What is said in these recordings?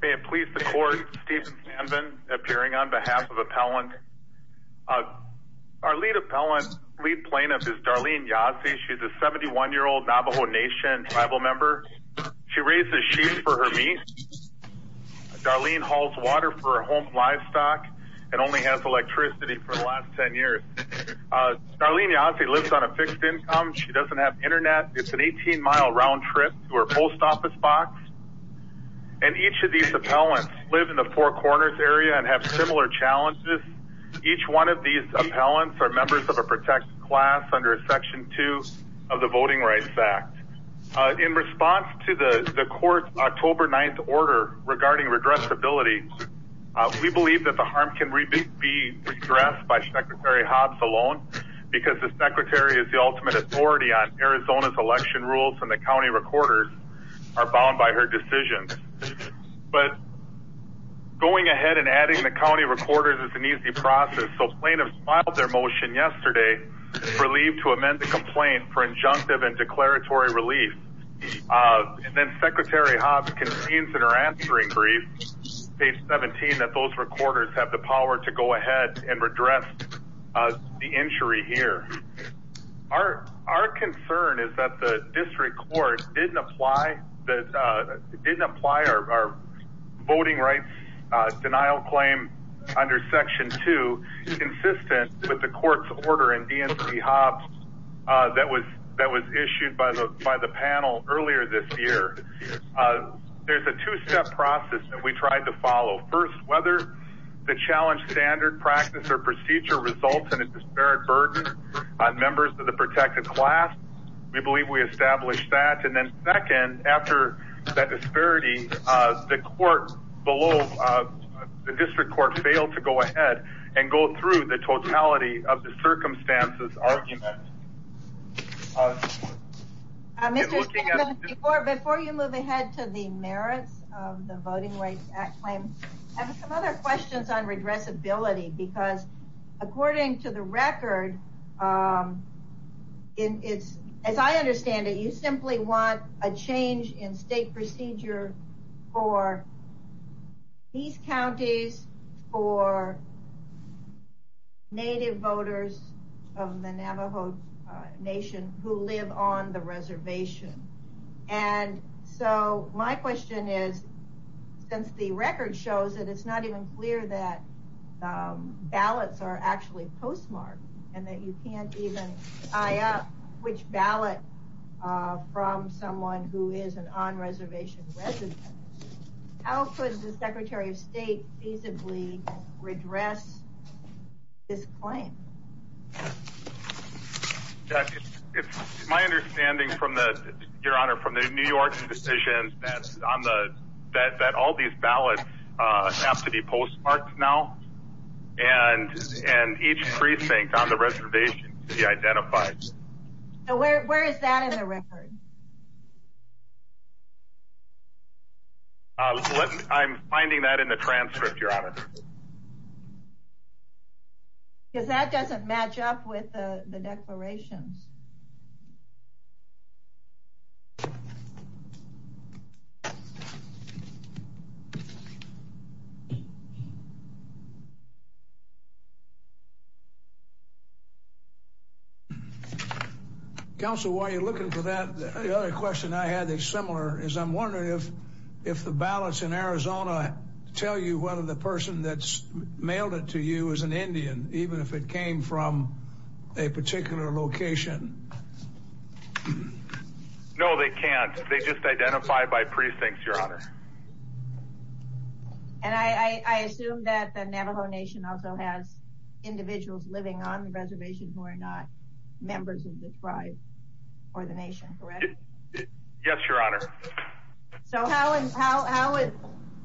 May it please the court, Steven Sanven appearing on behalf of Appellant. Our lead plaintiff is Darlene Yazzie. She's a 71-year-old Navajo Nation tribal member. She raises sheep for her meat. Darlene hauls water for her home livestock and only has electricity for the last 10 years. Darlene Yazzie lives on a fixed income. She doesn't have internet. It's an 18-mile round trip to her post office box. And each of these appellants live in the Four Corners area and have similar challenges. Each one of these appellants are members of a protected class under Section 2 of the Voting Rights Act. In response to the court's October 9th order regarding regressibility, we believe that the harm can be regressed by ultimate authority on Arizona's election rules and the county recorders are bound by her decisions. But going ahead and adding the county recorders is an easy process. So plaintiffs filed their motion yesterday for leave to amend the complaint for injunctive and declaratory relief. And then Secretary Hobbs convenes in her answering brief, page 17, that those recorders have the power to address the injury here. Our concern is that the district court didn't apply our voting rights denial claim under Section 2 consistent with the court's order in DNC-Hobbs that was issued by the panel earlier this year. There's a two-step process that we tried to follow. First, whether the challenge standard practice or procedure results in a disparate burden on members of the protected class, we believe we established that. And then second, after that disparity, the district court failed to go ahead and go through the totality of the circumstances argument. Before you move ahead to the merits of the Voting Rights Act claim, I have some other questions on redressability. Because according to the record, as I understand it, you simply want a change in state procedure for these counties, for native voters of the Navajo Nation who live on the reservation. And so my question is, since the record shows that it's not even clear that ballots are actually postmarked, and that you can't even tie up which ballot from someone who is an on-reservation resident, how could the Secretary of State feasibly redress this claim? It's my understanding, Your Honor, from the New York decision that all these ballots have to be postmarked now, and each precinct on the reservation to be identified. Where is that in the record? I'm finding that in the transcript, Your Honor. Because that doesn't match up with the declarations. Counsel, while you're looking for that, the other question I had that's similar is, I'm wondering if the ballots in Arizona tell you whether the person that's mailed it to you is an Indian, even if it came from a particular location. No, they can't. They just identify by precincts, Your Honor. And I assume that the Navajo Nation also has individuals living on the reservation who are not So how,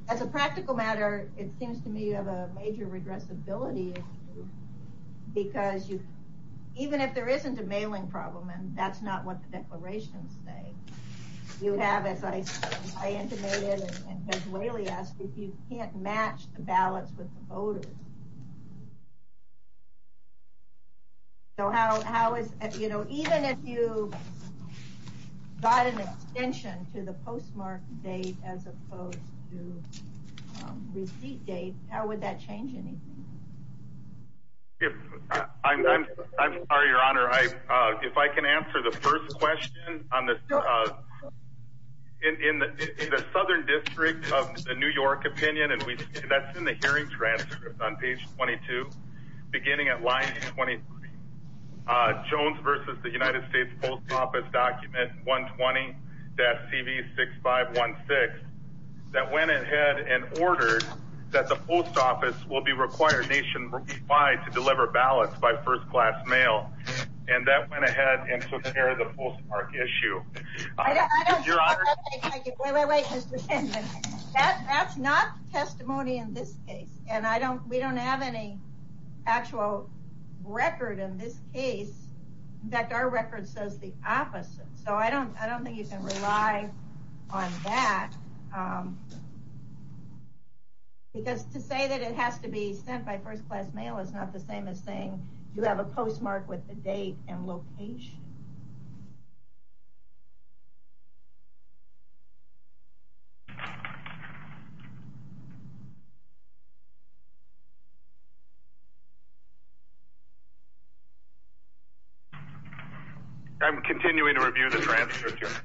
as a practical matter, it seems to me you have a major regressibility issue, because even if there isn't a mailing problem, and that's not what the declarations say, you have, as I intimated and as Leili asked, if you can't match the ballots with the voters. So how is, you know, even if you got an extension to the postmarked date as opposed to receipt date, how would that change anything? If, I'm sorry, Your Honor, if I can answer the first question on the, in the Southern District of the New York opinion, and we, that's in the hearing transcripts on page 22, beginning at line 23, Jones versus the United States Post Office document 120-CV6516, that went ahead and ordered that the post office will be required nationwide to deliver ballots by first class mail, and that went ahead and took care of the postmark issue. I don't think, wait, wait, wait, that's not testimony in this case, and I don't, we don't have any actual record in this case. In fact, our record says the opposite. So I don't, I don't think you can rely on that, because to say that it has to be sent by first class mail is not the same as saying you have a postmark with the date and location. I'm continuing to review the transcript, Your Honor.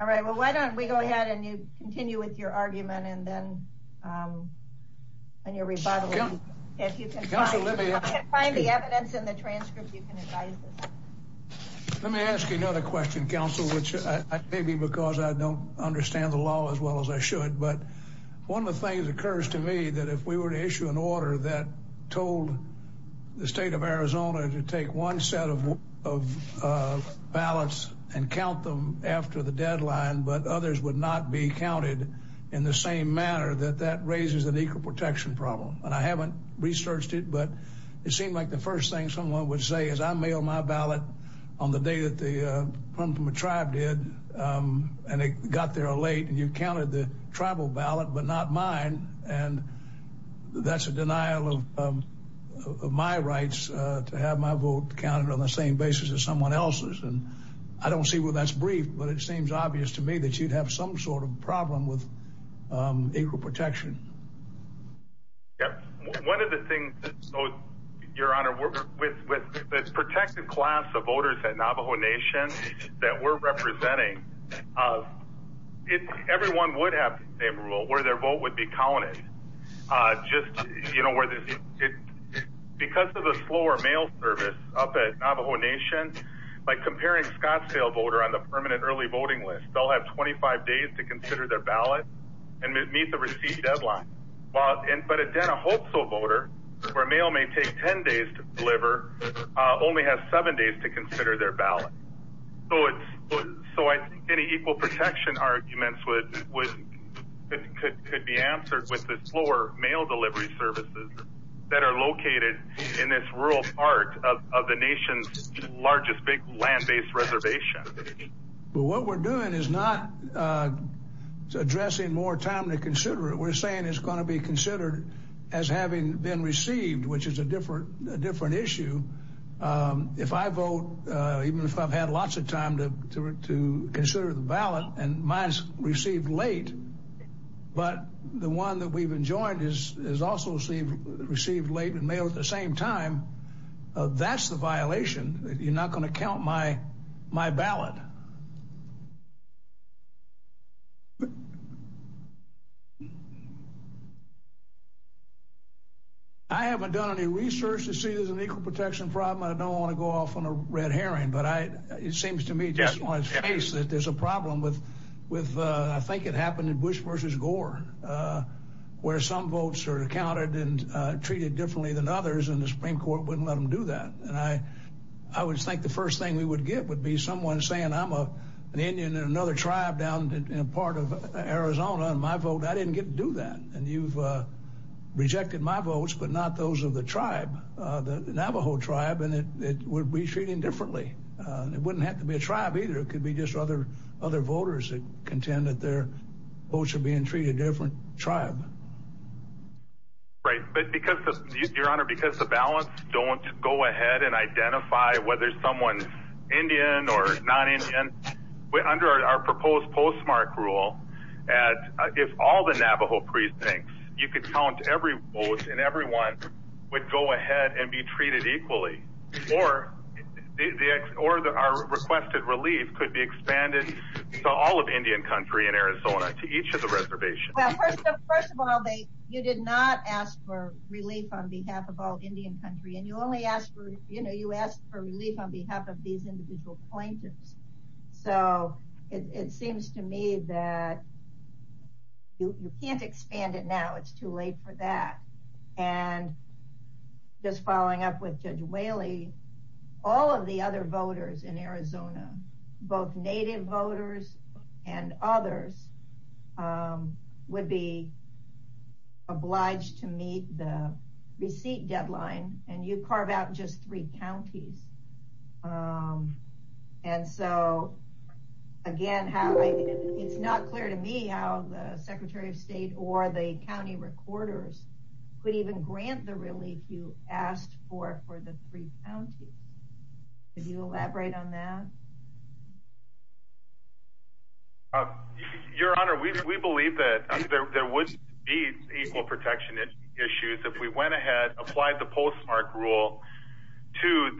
All right, well, why don't we go ahead and you continue with your argument, and then when you're rebuttaling, if you can find the evidence in the transcript, you can advise us. Let me ask you another question, counsel, which maybe because I don't understand the law as well as I should, but one of the things that occurs to me that if we were to issue an order that told the state of Arizona to take one set of ballots and count them after the deadline, but others would not be counted in the same manner, that that raises an equal protection problem. And I haven't researched it, but it seemed like the first thing someone would say is I mail my ballot on the day that they come from a tribe did, and they got there late, and you counted the tribal ballot, but not mine. And that's a denial of my rights to have my vote counted on the same basis as someone else's. And I don't see where that's brief, but it seems obvious to me that you'd have some sort of problem with equal protection. Yep. One of the things, your honor, with the protected class of voters at Navajo Nation that we're representing, everyone would have a rule where their vote would be counted. Because of the slower mail service up at Navajo Nation, by comparing Scottsdale voter on the permanent early voting list, they'll have 25 days to consider their ballot and meet the receipt deadline. But again, a Hope So voter, where mail may take 10 days to deliver, only has seven days to consider their ballot. So I think any equal protection arguments could be answered with the slower mail delivery services that are located in this rural part of the nation's largest big land-based reservation. Well, what we're doing is not addressing more time to consider it. What we're saying is going to be considered as having been received, which is a different issue. If I vote, even if I've had lots of time to consider the ballot and mine's received late, but the one that we've enjoined is also received late and mailed at the same time, that's the violation. You're not going to count my ballot. I haven't done any research to see if there's an equal protection problem. I don't want to go off on a red herring, but it seems to me just on its face that there's a problem with, I think it happened in Bush versus Gore, where some votes are counted and treated differently than others, and the Supreme Court wouldn't let them do that. And I would think the first thing we would get would be someone saying, I'm an Indian in another tribe down in a part of Arizona, and my vote, I didn't get to do that. And you've rejected my votes, but not those of the tribe, the Navajo tribe, and it would be treated differently. It wouldn't have to be a tribe either. It could be just other voters that contend that their votes are being treated different tribe. Right. But because, Your Honor, because the ballots don't go ahead and identify whether someone's Indian or non-Indian, under our proposed postmark rule, if all the Navajo precincts, you could count every vote and everyone would go ahead and be treated equally, or our requested relief could be expanded to all of Indian country in Arizona, to each of the reservations. Well, first of all, you did not ask for relief on behalf of all Indian country, and you only asked for, you know, you asked for relief on behalf of these individual plaintiffs. So it seems to me that you can't expand it now. It's too late for that. And just following up with Judge Whaley, all of the other voters in Arizona, both Native voters and others, would be obliged to meet the receipt deadline, and you carve out just three counties. And so, again, it's not clear to me how the Secretary of State or the county recorders could even grant the relief you asked for for the three counties. Could you elaborate on that? Your Honor, we believe that there would be equal protection issues if we went ahead, applied the postmark rule to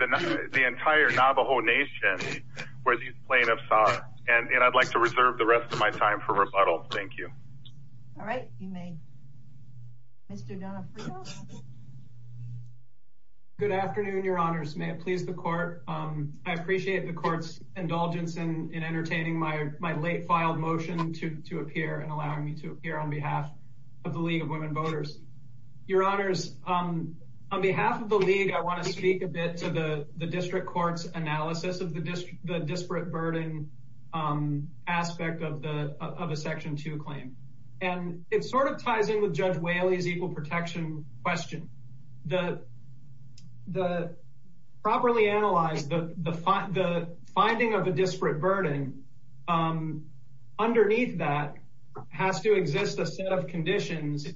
the entire Navajo Nation, where these plaintiffs are. And I'd like to reserve the rest of my time for rebuttal. Thank you. All right, you may. Mr. Donofrio? Good afternoon, Your Honors. May it please the Court. I appreciate the Court's entertaining my late-filed motion to appear and allowing me to appear on behalf of the League of Women Voters. Your Honors, on behalf of the League, I want to speak a bit to the District Court's analysis of the disparate burden aspect of a Section 2 claim. And it sort of ties in with Judge Whaley's equal protection question. To properly analyze the finding of a disparate burden, underneath that has to exist a set of conditions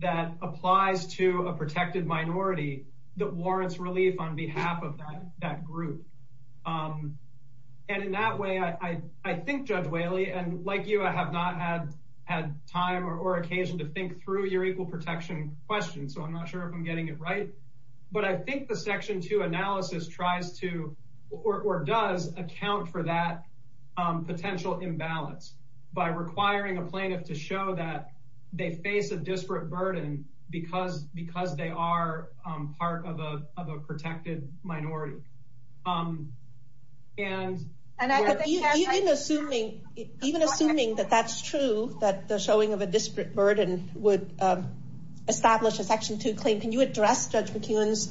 that applies to a protected minority that warrants relief on behalf of that group. And in that way, I think Judge Whaley, and like you, I have not had time or occasion to think through your equal protection question, so I'm not sure if I'm getting it right. But I think the Section 2 analysis tries to, or does, account for that potential imbalance by requiring a plaintiff to show that they face a disparate burden because they are part of a protected minority. Even assuming that that's true, that the showing of a disparate burden would establish a Section 2 claim, can you address Judge McEwen's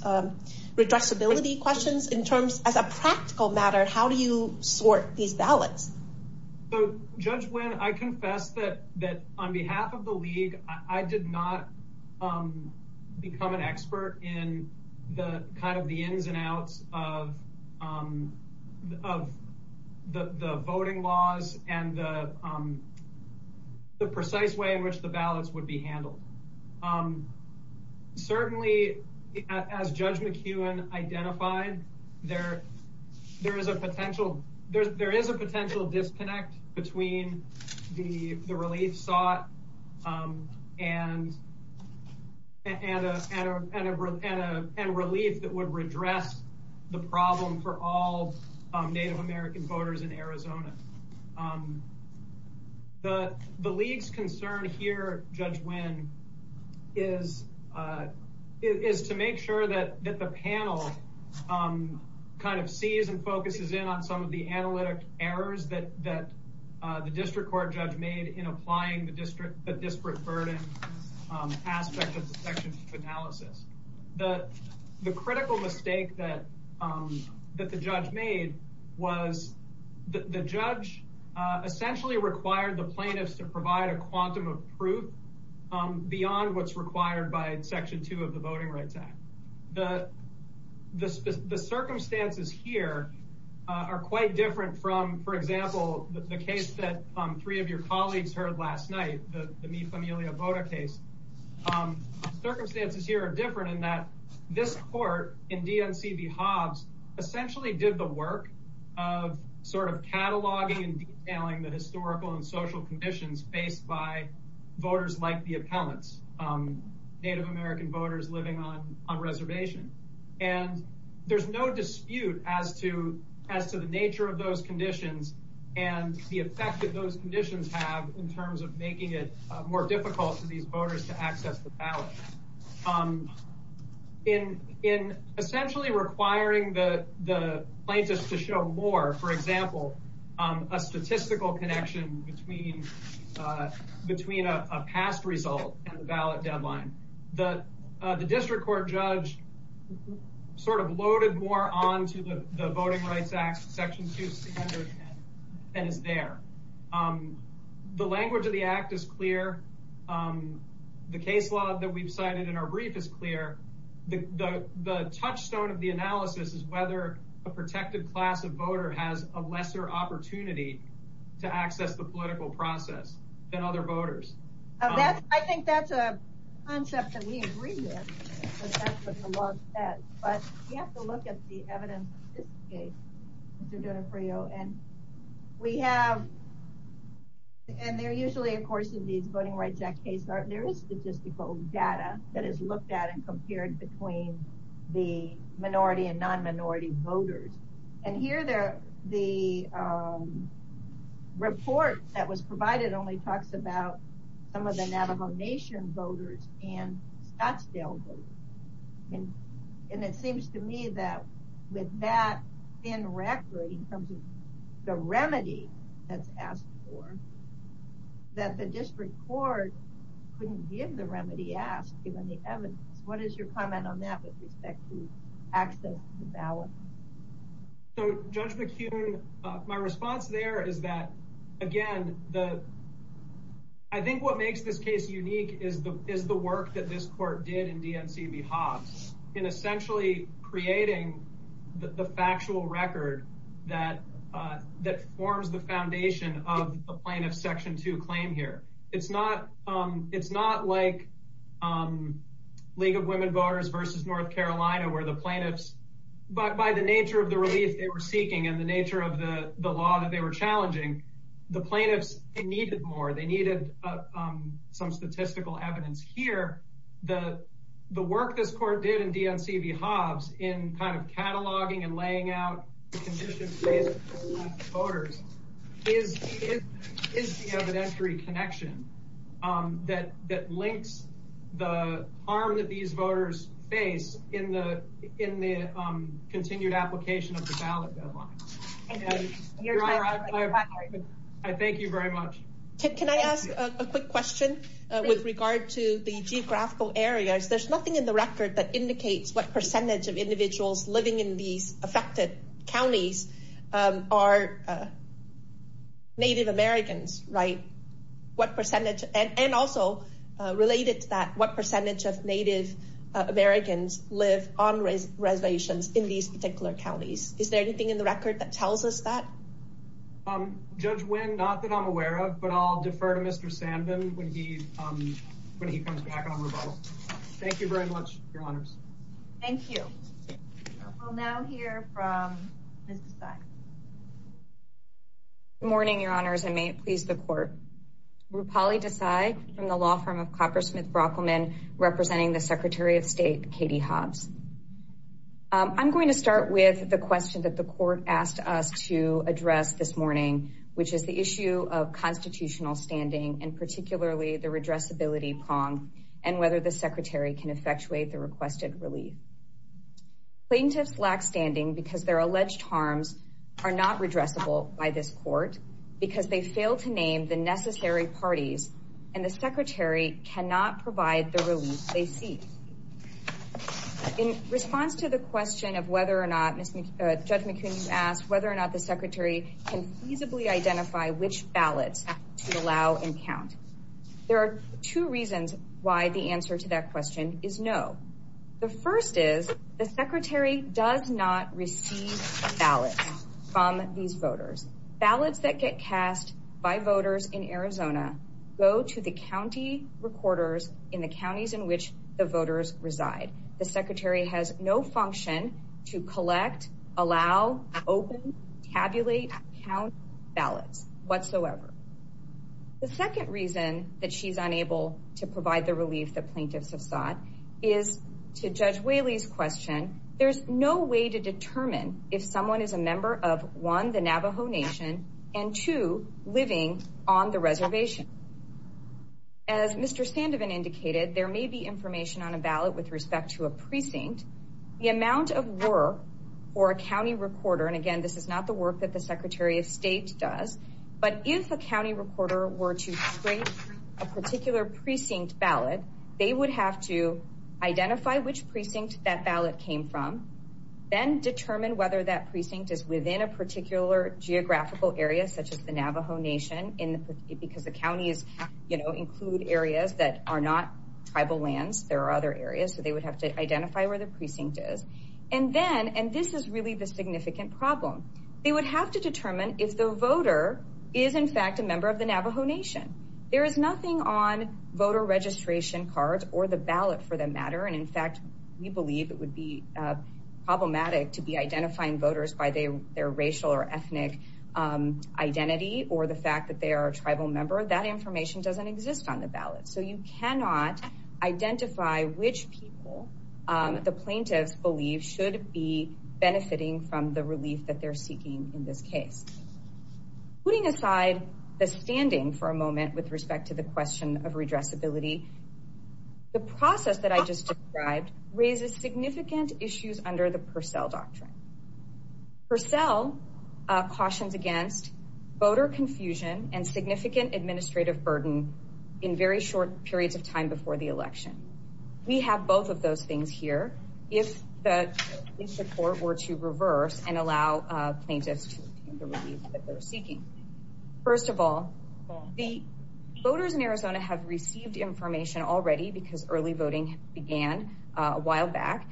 redressability questions in terms, as a practical matter, how do you sort these ballots? So Judge Nguyen, I confess that on behalf of the League, I did not become an expert in the ins and outs of the voting laws and the precise way in which the ballots would be handled. Certainly, as Judge McEwen identified, there is a potential disconnect between the relief sought and relief that would redress the problem for all Native American voters in Arizona. The League's concern here, Judge Nguyen, is to make sure that the panel kind of sees and focuses in on some of the analytic errors that the district court judge made in applying the disparate burden aspect of the Section 2 analysis. The critical mistake that the judge made was that the judge essentially required the plaintiffs to provide a quantum of proof beyond what's required by Section 2 of the Voting Rights Act. The circumstances here are quite different from, for example, the case that three of your colleagues heard last night, the Mi Familia Vota case. Circumstances here are different in that this court in DNC v. Hobbs essentially did the work of sort of cataloging and detailing the historical and social conditions faced by voters like the appellants, Native American voters living on reservation. And there's no dispute as to the nature of those conditions and the effect that those conditions have in terms of making it more difficult for these voters to access the ballot. In essentially requiring the plaintiffs to show more, for example, a statistical connection between a past result and the ballot deadline. The district court judge sort of loaded more onto the Voting Rights Act, Section 2, and is there. The language of the act is clear. The case law that we've cited in our brief is clear. The touchstone of the analysis is whether a protected class of voter has a lesser opportunity to access the political process than other voters. I think that's a concept that we agree with. But we have to look at the evidence of this case, Mr. D'Onofrio, and we have, and they're usually, of course, in these Voting Rights Act cases, there is statistical data that is looked at and compared between the minority and non-minority voters. And here the report that was provided only talks about some of the Navajo Nation voters and Scottsdale voters. And it seems to me that with that thin record in terms of the remedy that's asked for, that the district court couldn't give the remedy asked given the evidence. What is your comment on that with respect to access to the ballot? So, Judge McHugh, my response there is that, again, I think what makes this case unique is the work that this court did in DNC v. Hobbs in essentially creating the factual record that forms the foundation of the plaintiff's Section 2 claim here. It's not like League of Women Voters v. North Carolina, where the plaintiffs, but by the nature of the relief they were seeking and the nature of the law that they were challenging, the plaintiffs, they needed more. They needed some statistical evidence here. The work this court did in DNC v. Hobbs in kind of cataloging and laying out the conditions for the voters is the evidentiary connection that links the harm that these voters face in the continued application of the ballot deadline. I thank you very much. Can I ask a quick question with regard to the geographical areas? There's nothing in the record that indicates what percentage of individuals living in these affected counties are Native Americans, right? And also related to that, what percentage of Native Americans live on reservations in these particular counties? Is there anything in the record that tells us that? Judge Nguyen, not that I'm aware of, but I'll defer to Mr. Sandin when he comes back on rebuttal. Thank you very much, your honors. Thank you. We'll now hear from Ms. Desai. Good morning, your honors, and may it please the court. Rupali Desai from the law firm of Coppersmith Brockelman, representing the Secretary of State Katie Hobbs. I'm going to start with the question that the court asked us to address this morning, which is the issue of constitutional standing and particularly the redressability prong, and whether the secretary can effectuate the requested relief. Plaintiffs lack standing because their alleged harms are not redressable by this court because they fail to name the necessary parties, and the secretary cannot provide the relief they seek. In response to the question of whether or not, Judge McQueen asked whether or not the secretary can feasibly identify which ballots to allow and count. There are two reasons why the answer to that question is no. The first is the secretary does not receive ballots from these voters. Ballots that get cast by voters in Arizona go to the county recorders in the counties in which the voters reside. The secretary has no function to collect, allow, open, tabulate, count ballots whatsoever. The second reason that she's unable to provide the relief that plaintiffs have sought is to Judge Whaley's question. There's no way to determine if someone is a member of, one, the Navajo Nation, and two, living on the reservation. As Mr. Sandovan indicated, there may be information on a ballot with respect to a precinct. The amount of work for a county recorder, and again, this is not the work that the Secretary of State does, but if a county recorder were to scrape a particular precinct ballot, they would have to identify which precinct that ballot came from, then determine whether that precinct is within a particular geographical area, such as the tribal lands, there are other areas, so they would have to identify where the precinct is, and then, and this is really the significant problem, they would have to determine if the voter is, in fact, a member of the Navajo Nation. There is nothing on voter registration cards or the ballot for that matter, and in fact, we believe it would be problematic to be identifying voters by their racial or ethnic identity or the fact that they are a tribal member. That information doesn't exist on the ballot, so you cannot identify which people the plaintiffs believe should be benefiting from the relief that they're seeking in this case. Putting aside the standing for a moment with respect to the question of redressability, the process that I just described raises significant issues under the Purcell Doctrine. Purcell cautions against voter confusion and significant administrative burden in very short periods of time before the election. We have both of those things here. If the court were to reverse and allow plaintiffs to obtain the relief that they're seeking, first of all, the voters in Arizona have received information already because early voting began a while back.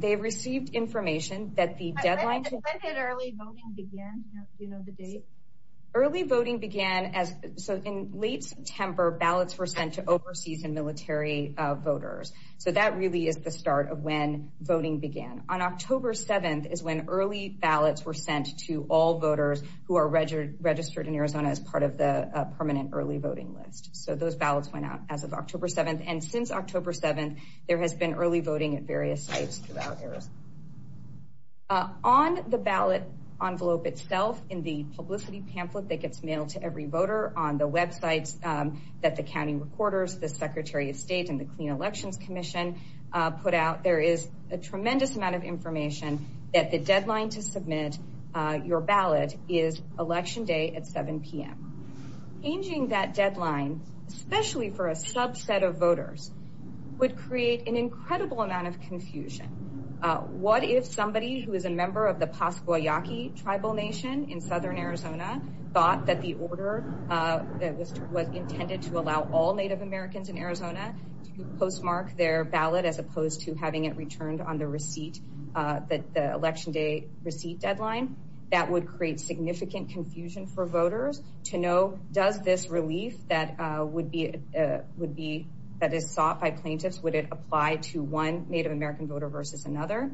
They've received information that the so in late September ballots were sent to overseas and military voters. So that really is the start of when voting began. On October 7th is when early ballots were sent to all voters who are registered in Arizona as part of the permanent early voting list. So those ballots went out as of October 7th and since October 7th there has been early voting at various sites throughout Arizona. On the ballot envelope itself in the publicity pamphlet that gets mailed to every voter on the websites that the county recorders, the Secretary of State, and the Clean Elections Commission put out, there is a tremendous amount of information that the deadline to submit your ballot is election day at 7 p.m. Changing that deadline, especially for a subset of voters, would create an incredible amount of confusion. What if somebody who is a member of the Pascua Yaqui tribal nation in southern Arizona thought that the order that was intended to allow all Native Americans in Arizona to postmark their ballot as opposed to having it returned on the receipt, the election day receipt deadline? That would create significant confusion for voters to know does this relief that is sought by plaintiffs, would it apply to one Native American voter versus another?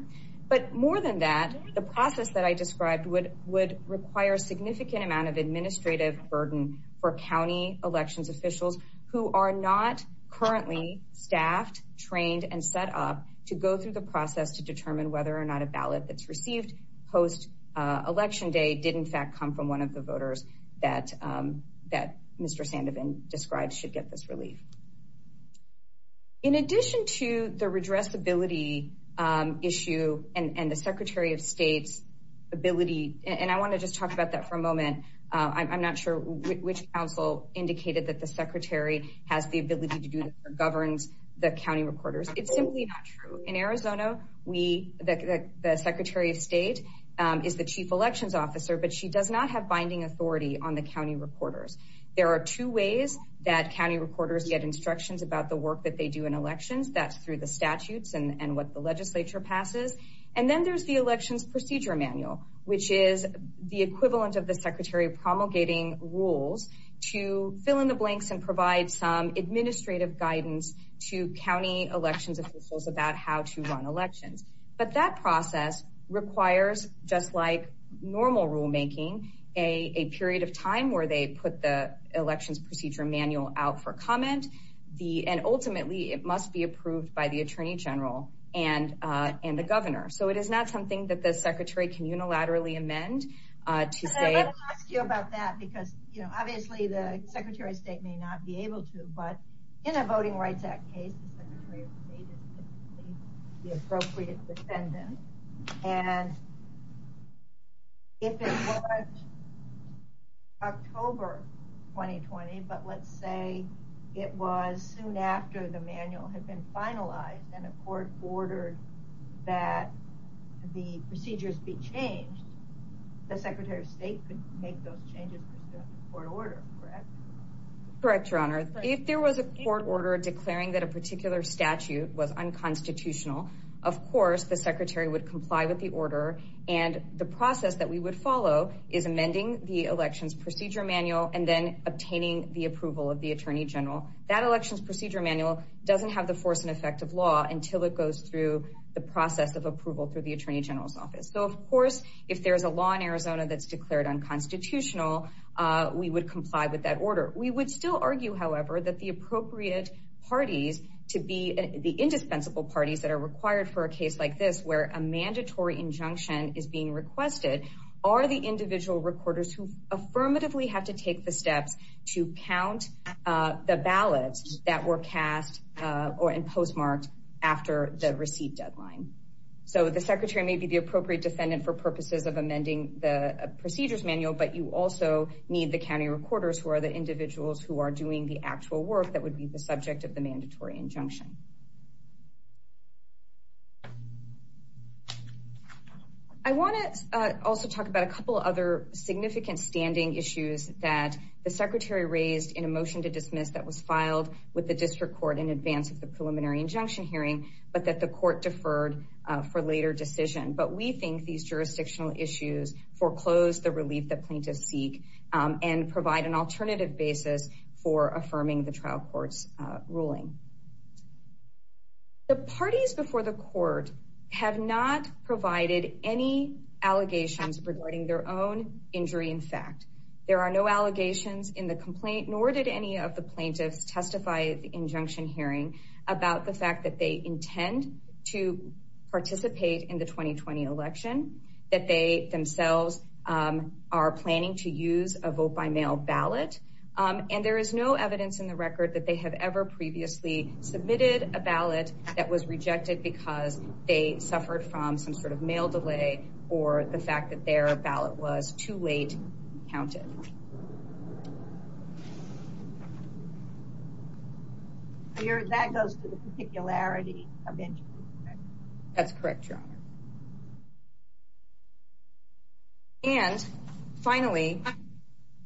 But more than that, the process that I described would require a significant amount of administrative burden for county elections officials who are not currently staffed, trained, and set up to go through the process to determine whether or not a ballot that's received post-election day did in fact come from one of the voters that Mr. Sandovan described should get this relief. In addition to the redressability issue and the Secretary of State's ability, and I want to just talk about that for a moment, I'm not sure which council indicated that the Secretary has the ability to do this or governs the county recorders. It's simply not true. In Arizona, the Secretary of State is the chief elections officer, but she does not have binding authority on the county recorders. There are two ways that county recorders get instructions about the work that they do in elections. That's through the statutes and what the legislature passes. And then there's the elections procedure manual, which is the equivalent of the Secretary promulgating rules to fill in the blanks and provide some administrative guidance to county elections officials about how to run elections. But that process requires, just like normal rulemaking, a period of time where they put the elections procedure manual out for comment. And ultimately, it must be approved by the Attorney General and the Governor. So it is not something that the Secretary can unilaterally amend. I'd like to ask you about that because obviously the Secretary of State may not be able to, but in a Voting Rights Act case, the Secretary of State is the appropriate defendant. And if it was October 2020, but let's say it was soon after the manual had been finalized and a court ordered that the procedures be changed, the Secretary of Court order, correct? Correct, Your Honor. If there was a court order declaring that a particular statute was unconstitutional, of course the Secretary would comply with the order. And the process that we would follow is amending the elections procedure manual and then obtaining the approval of the Attorney General. That elections procedure manual doesn't have the force and effect of law until it goes through the process of approval through the Attorney General's office. So of course, if there's a law in Arizona that's declared unconstitutional, we would comply with that order. We would still argue, however, that the appropriate parties to be the indispensable parties that are required for a case like this, where a mandatory injunction is being requested, are the individual recorders who affirmatively have to take the steps to count the ballots that were cast or in postmarked after the receipt deadline. So the Secretary may be the appropriate defendant for purposes of amending the procedures manual, but you also need the county recorders who are the individuals who are doing the actual work that would be the subject of the mandatory injunction. I want to also talk about a couple other significant standing issues that the Secretary raised in a motion to dismiss that was filed with the district court in advance of the preliminary injunction hearing, but that the court deferred for later decision. But we think these jurisdictional issues foreclose the relief that plaintiffs seek and provide an alternative basis for affirming the trial court's ruling. The parties before the court have not provided any allegations regarding their own injury. In fact, there are no allegations in the complaint, nor did any of the plaintiffs testify at the injunction hearing about the fact that they intend to participate in the 2020 election, that they themselves are planning to use a vote-by-mail ballot, and there is no evidence in the record that they have ever previously submitted a ballot that was rejected because they suffered from some sort of mail delay or the fact that their ballot was too late counted. That goes to the particularity of injury. That's correct, Your Honor. And finally,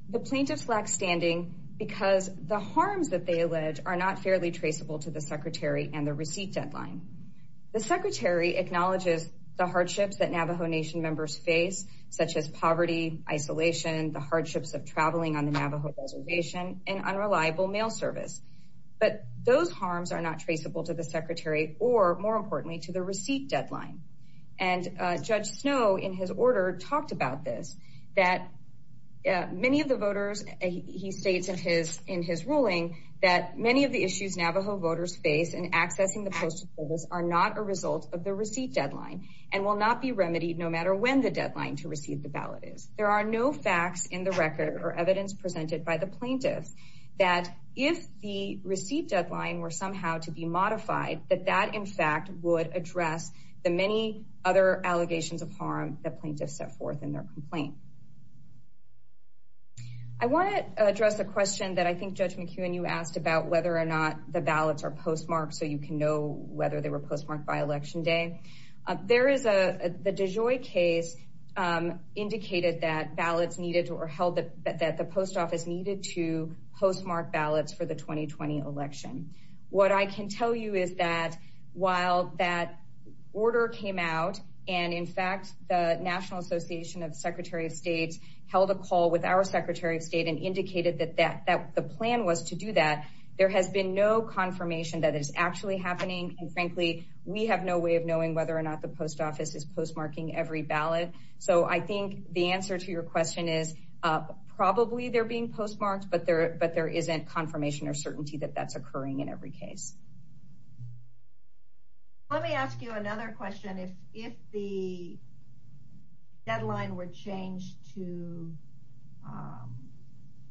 the plaintiffs lack standing because the harms that they allege are not fairly traceable to the Secretary and the receipt deadline. The Secretary acknowledges the hardships that Navajo Nation members face, such as poverty, isolation, the hardships of traveling on the Navajo Reservation, and unreliable mail service. But those harms are not traceable to the Secretary or, more importantly, to the receipt deadline. And Judge Snow, in his order, talked about this, that many of the voters, he states in his ruling, that many of the issues Navajo voters face in accessing the postal polls are not a result of the receipt deadline and will not be remedied no matter when the deadline to receive the ballot is. There are no facts in the record or evidence presented by the plaintiffs that, if the receipt deadline were somehow to be modified, that that, in fact, would address the many other allegations of harm that plaintiffs set forth in their complaint. I want to address a question that I think Judge McEwen, you asked about whether or not the ballots are postmarked so you can know whether they were postmarked by Election Day. There is a, the DeJoy case indicated that ballots needed or held that the post office needed to postmark ballots for the 2020 election. What I can tell you is that while that order came out and, in fact, the National Association of Secretary of States held a call with our Secretary of State and indicated that the plan was to do that, there has been no confirmation that it is actually happening. And, frankly, we have no way of knowing whether or not the post office is postmarking every ballot. So I think the answer to your question is probably they're being postmarked, but there isn't confirmation or certainty that that's occurring in every case. Let me ask you another question. If, if the deadline were changed to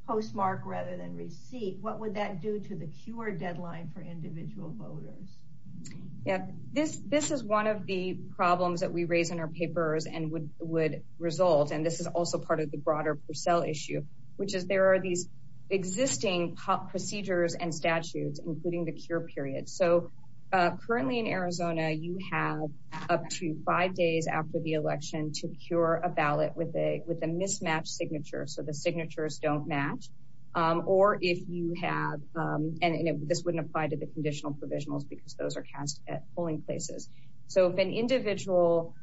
postmark rather than receipt, what would that do to the cure deadline for individual voters? Yeah, this, this is one of the problems that we raise in our papers and would, would result. And this is also part of the broader Purcell issue, which is there are these existing procedures and statutes, including the cure period. So currently in Arizona, you have up to five days after the election to cure a ballot with a, with a mismatched signature. So the signatures don't match. Or if you have, and this wouldn't apply to the conditional provisionals because those are cast at polling places. So if an individual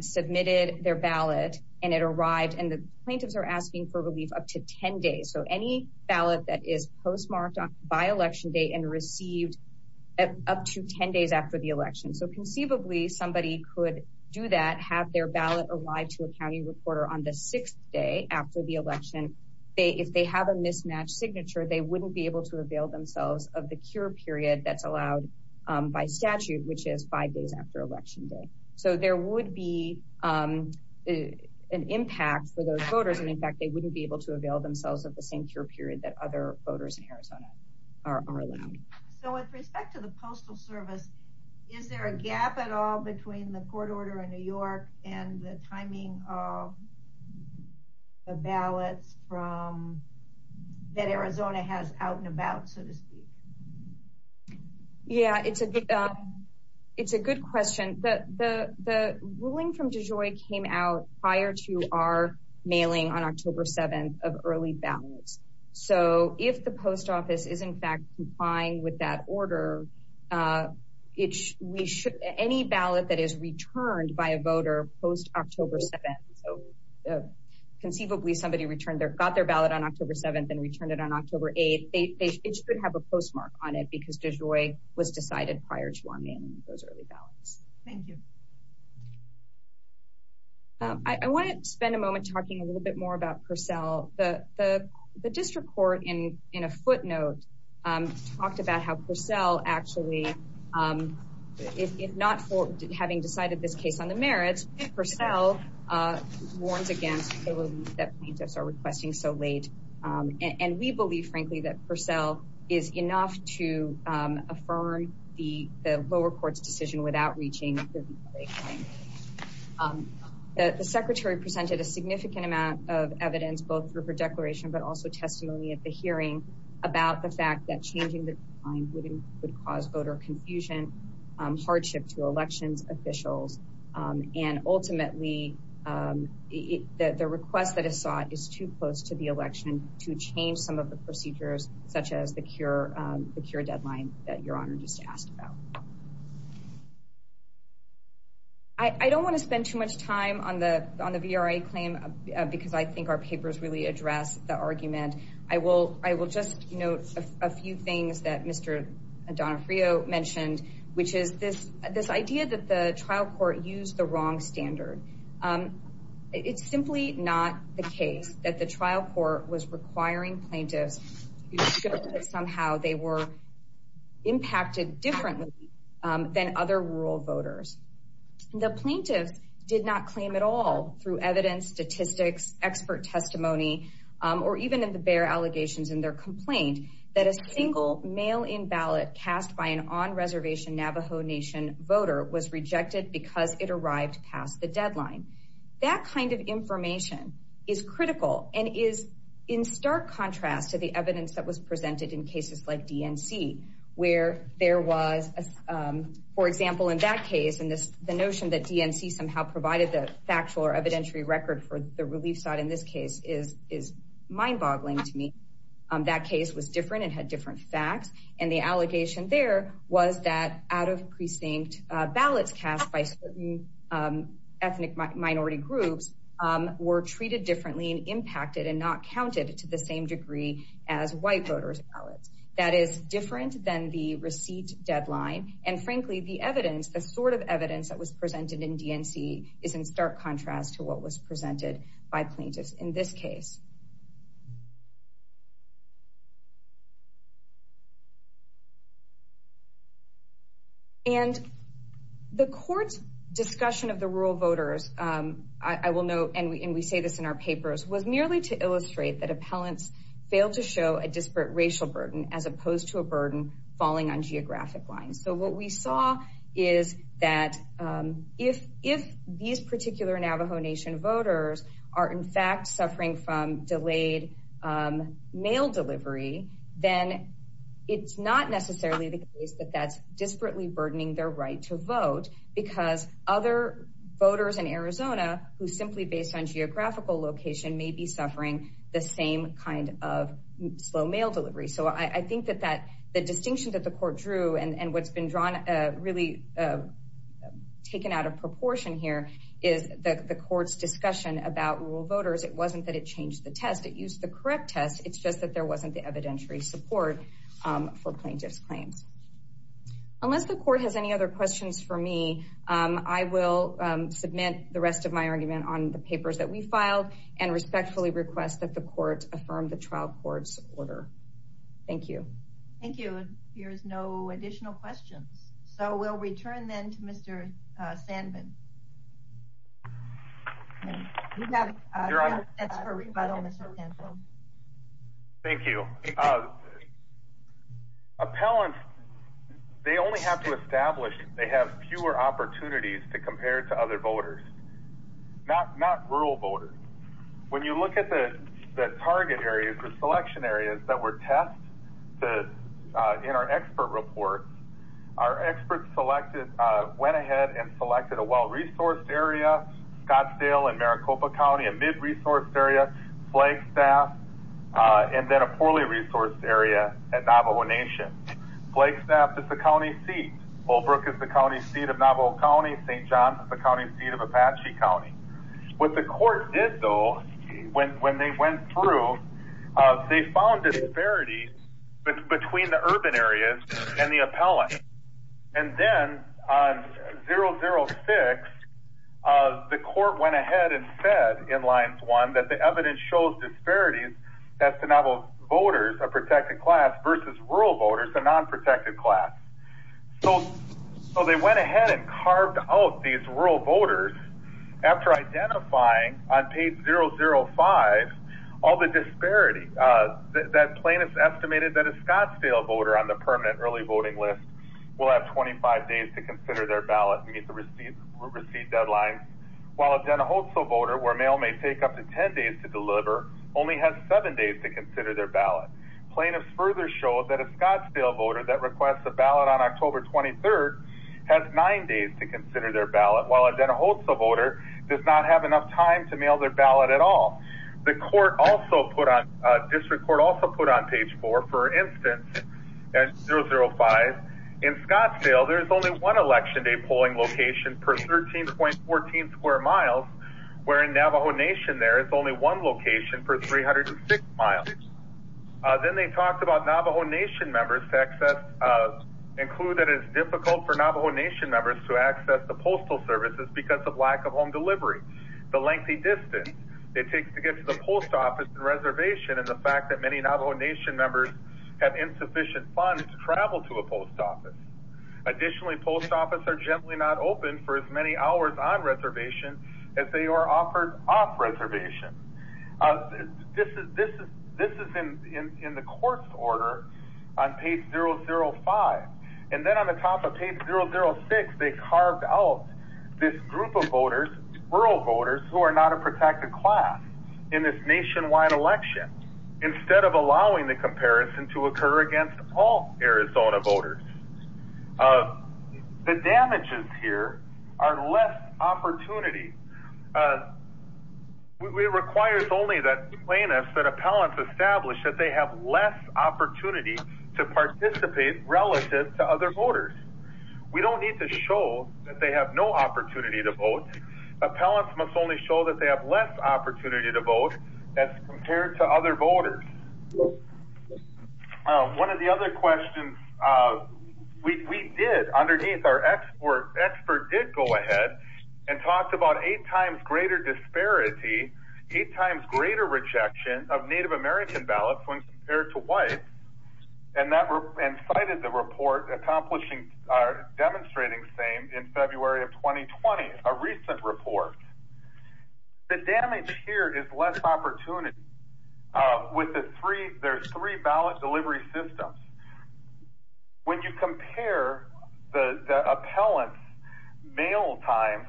submitted their ballot and it arrived and the plaintiffs are asking for relief up to 10 days. So any ballot that is postmarked by election day and received up to 10 days after the election. So conceivably somebody could do that, have their ballot arrived to a County reporter on the sixth day after the election. They, if they have a mismatched signature, they wouldn't be able to avail themselves of the cure period. That's allowed by statute, which is five days after election day. So there would be an impact for those voters. And in fact, they wouldn't be able to avail themselves of the same cure period that other voters in Arizona are allowed. So with respect to the postal service, is there a gap at all between the court order in New York and the timing of the ballots from that Arizona has out and about, so to speak? Yeah, it's a good, it's a good question. The ruling from DeJoy came out prior to our mailing on October 7th of early ballots. So if the post office is in fact complying with that order, it's, we should, any ballot that is returned by a voter post October 7th. So conceivably somebody returned their, got their ballot on October 7th and returned it on October 8th. They, it should have a postmark on it because DeJoy was decided prior to our mailing those early ballots. Thank you. I want to spend a moment talking a little bit more about Purcell. The district court in a footnote talked about how Purcell actually, if not for having decided this case on the merits, Purcell warns against the relief that plaintiffs are requesting so late. And we believe frankly that Purcell is enough to affirm the lower court's decision without reaching. The secretary presented a significant amount of evidence both through her declaration but also testimony at the hearing about the fact that changing the time would cause voter confusion, hardship to elections officials, and ultimately the request that is sought is too close to the procedures such as the cure, the cure deadline that your honor just asked about. I don't want to spend too much time on the, on the VRA claim because I think our papers really address the argument. I will, I will just note a few things that Mr. Donofrio mentioned, which is this, this idea that the trial court used the wrong standard. It's simply not the case that trial court was requiring plaintiffs because somehow they were impacted differently than other rural voters. The plaintiffs did not claim at all through evidence, statistics, expert testimony, or even in the bare allegations in their complaint, that a single mail-in ballot cast by an on-reservation Navajo Nation voter was rejected because it arrived past the deadline. That kind of information is critical and is in stark contrast to the evidence that was presented in cases like DNC where there was, for example, in that case and this, the notion that DNC somehow provided the factual or evidentiary record for the relief site in this case is, is mind-boggling to me. That case was different and had different facts and the allegation there was that out of were treated differently and impacted and not counted to the same degree as white voters ballots. That is different than the receipt deadline and frankly the evidence, the sort of evidence that was presented in DNC is in stark contrast to what was presented by plaintiffs in this case. And the court's discussion of the rural voters, I will note, and we say this in our papers, was merely to illustrate that appellants failed to show a disparate racial burden as opposed to a burden falling on geographic lines. So what we saw is that if, if these particular Navajo Nation voters are in fact suffering from delayed mail delivery, then it's not necessarily the case that that's disparately burdening their right to vote because other voters in Arizona who simply based on geographical location may be suffering the same kind of slow mail delivery. So I think that that, the distinction that the court drew and, and what's been drawn, really taken out of proportion here is the court's discussion about rural voters. It wasn't that it changed the test, it used the correct test. It's just that there wasn't the evidentiary support for plaintiff's claims. Unless the court has any other questions for me, I will submit the rest of my argument on the papers that we filed and respectfully request that the court affirm the trial court's order. Thank you. Thank you. Here's no additional questions. So we'll return then to Mr. Sandman. Thank you. Appellants, they only have to establish they have fewer opportunities to compare to other voters, not, not rural voters. When you look at the target areas, the selection areas that were a mid-resourced area, Scottsdale and Maricopa County, a mid-resourced area, Flagstaff, and then a poorly resourced area at Navajo Nation. Flagstaff is the county seat, Holbrook is the county seat of Navajo County, St. John's is the county seat of Apache County. What the court did though, when they went through, they found disparities between the urban areas and the appellant. And then on 006, the court went ahead and said in lines one that the evidence shows disparities as to Navajo voters, a protected class versus rural voters, a non-protected class. So, so they went ahead and carved out these rural voters after identifying on page 005, all the disparity. That plaintiff's estimated that a Scottsdale voter on the permanent early voting list will have 25 days to consider their ballot and meet the receipt deadline, while a Den Ahotso voter, where mail may take up to 10 days to deliver, only has seven days to consider their ballot. Plaintiffs further showed that a Scottsdale voter that requests a ballot on October 23rd has nine days to consider their ballot, while a Den Ahotso voter does not have enough time to mail their ballot at all. The court also put on, district court also put on page four, for instance, at 005, in Scottsdale, there's only one election day polling location per 13.14 square miles, where in Navajo Nation there, it's only one location per 306 miles. Then they talked about Navajo Nation members to access, include that it is difficult for Navajo Nation members to access the postal services because of lack of home delivery, the lengthy distance it takes to get to the post office and reservation, and the fact that many Navajo Nation members have insufficient funds to travel to a post office. Additionally, post office are generally not open for as many hours on reservation as they are offered off reservation. This is in the court's order on page 005. And then on the top of page 006, they carved out this group of voters, rural voters who are not a protected class in this nationwide election, instead of allowing the comparison to occur against all Arizona voters. The damages here are less opportunity. It requires only that plaintiffs, appellants establish that they have less opportunity to participate relative to other voters. We don't need to show that they have no opportunity to vote. Appellants must only show that they have less opportunity to vote as compared to other voters. One of the other questions we did underneath our expert did go ahead and talked about eight times greater disparity, eight times greater rejection of Native American ballots when compared to whites, and cited the report demonstrating same in February of 2020, a recent report. The damage here is less opportunity. There's three ballot delivery systems. When you compare the appellant's mail time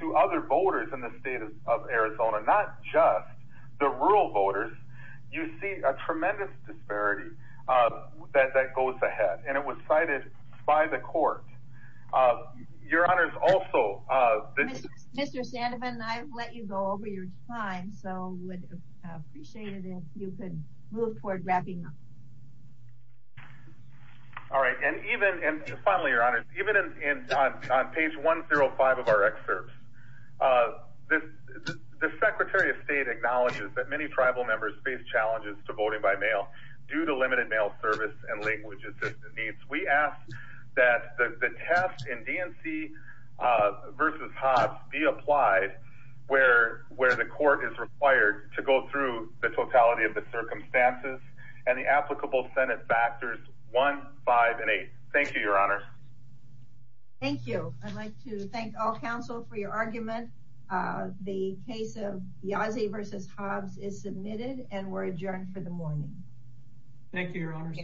to other voters in the state of Arizona, not just the rural voters, you see a tremendous disparity that goes ahead. And it was cited by the court. Your honors, also... Mr. Sandovan, I've let you go over your time, so would appreciate it if you could move toward wrapping up. All right. And even, and of our excerpts, the Secretary of State acknowledges that many tribal members face challenges to voting by mail due to limited mail service and language assistance needs. We ask that the test in DNC versus Hobbs be applied where the court is required to go through the totality of the circumstances and the applicable Senate factors 1, 5, and 8. Thank you, your honor. Thank you. I'd like to thank all counsel for your argument. The case of Yazzie versus Hobbs is submitted and we're adjourned for the morning. Thank you, your honor.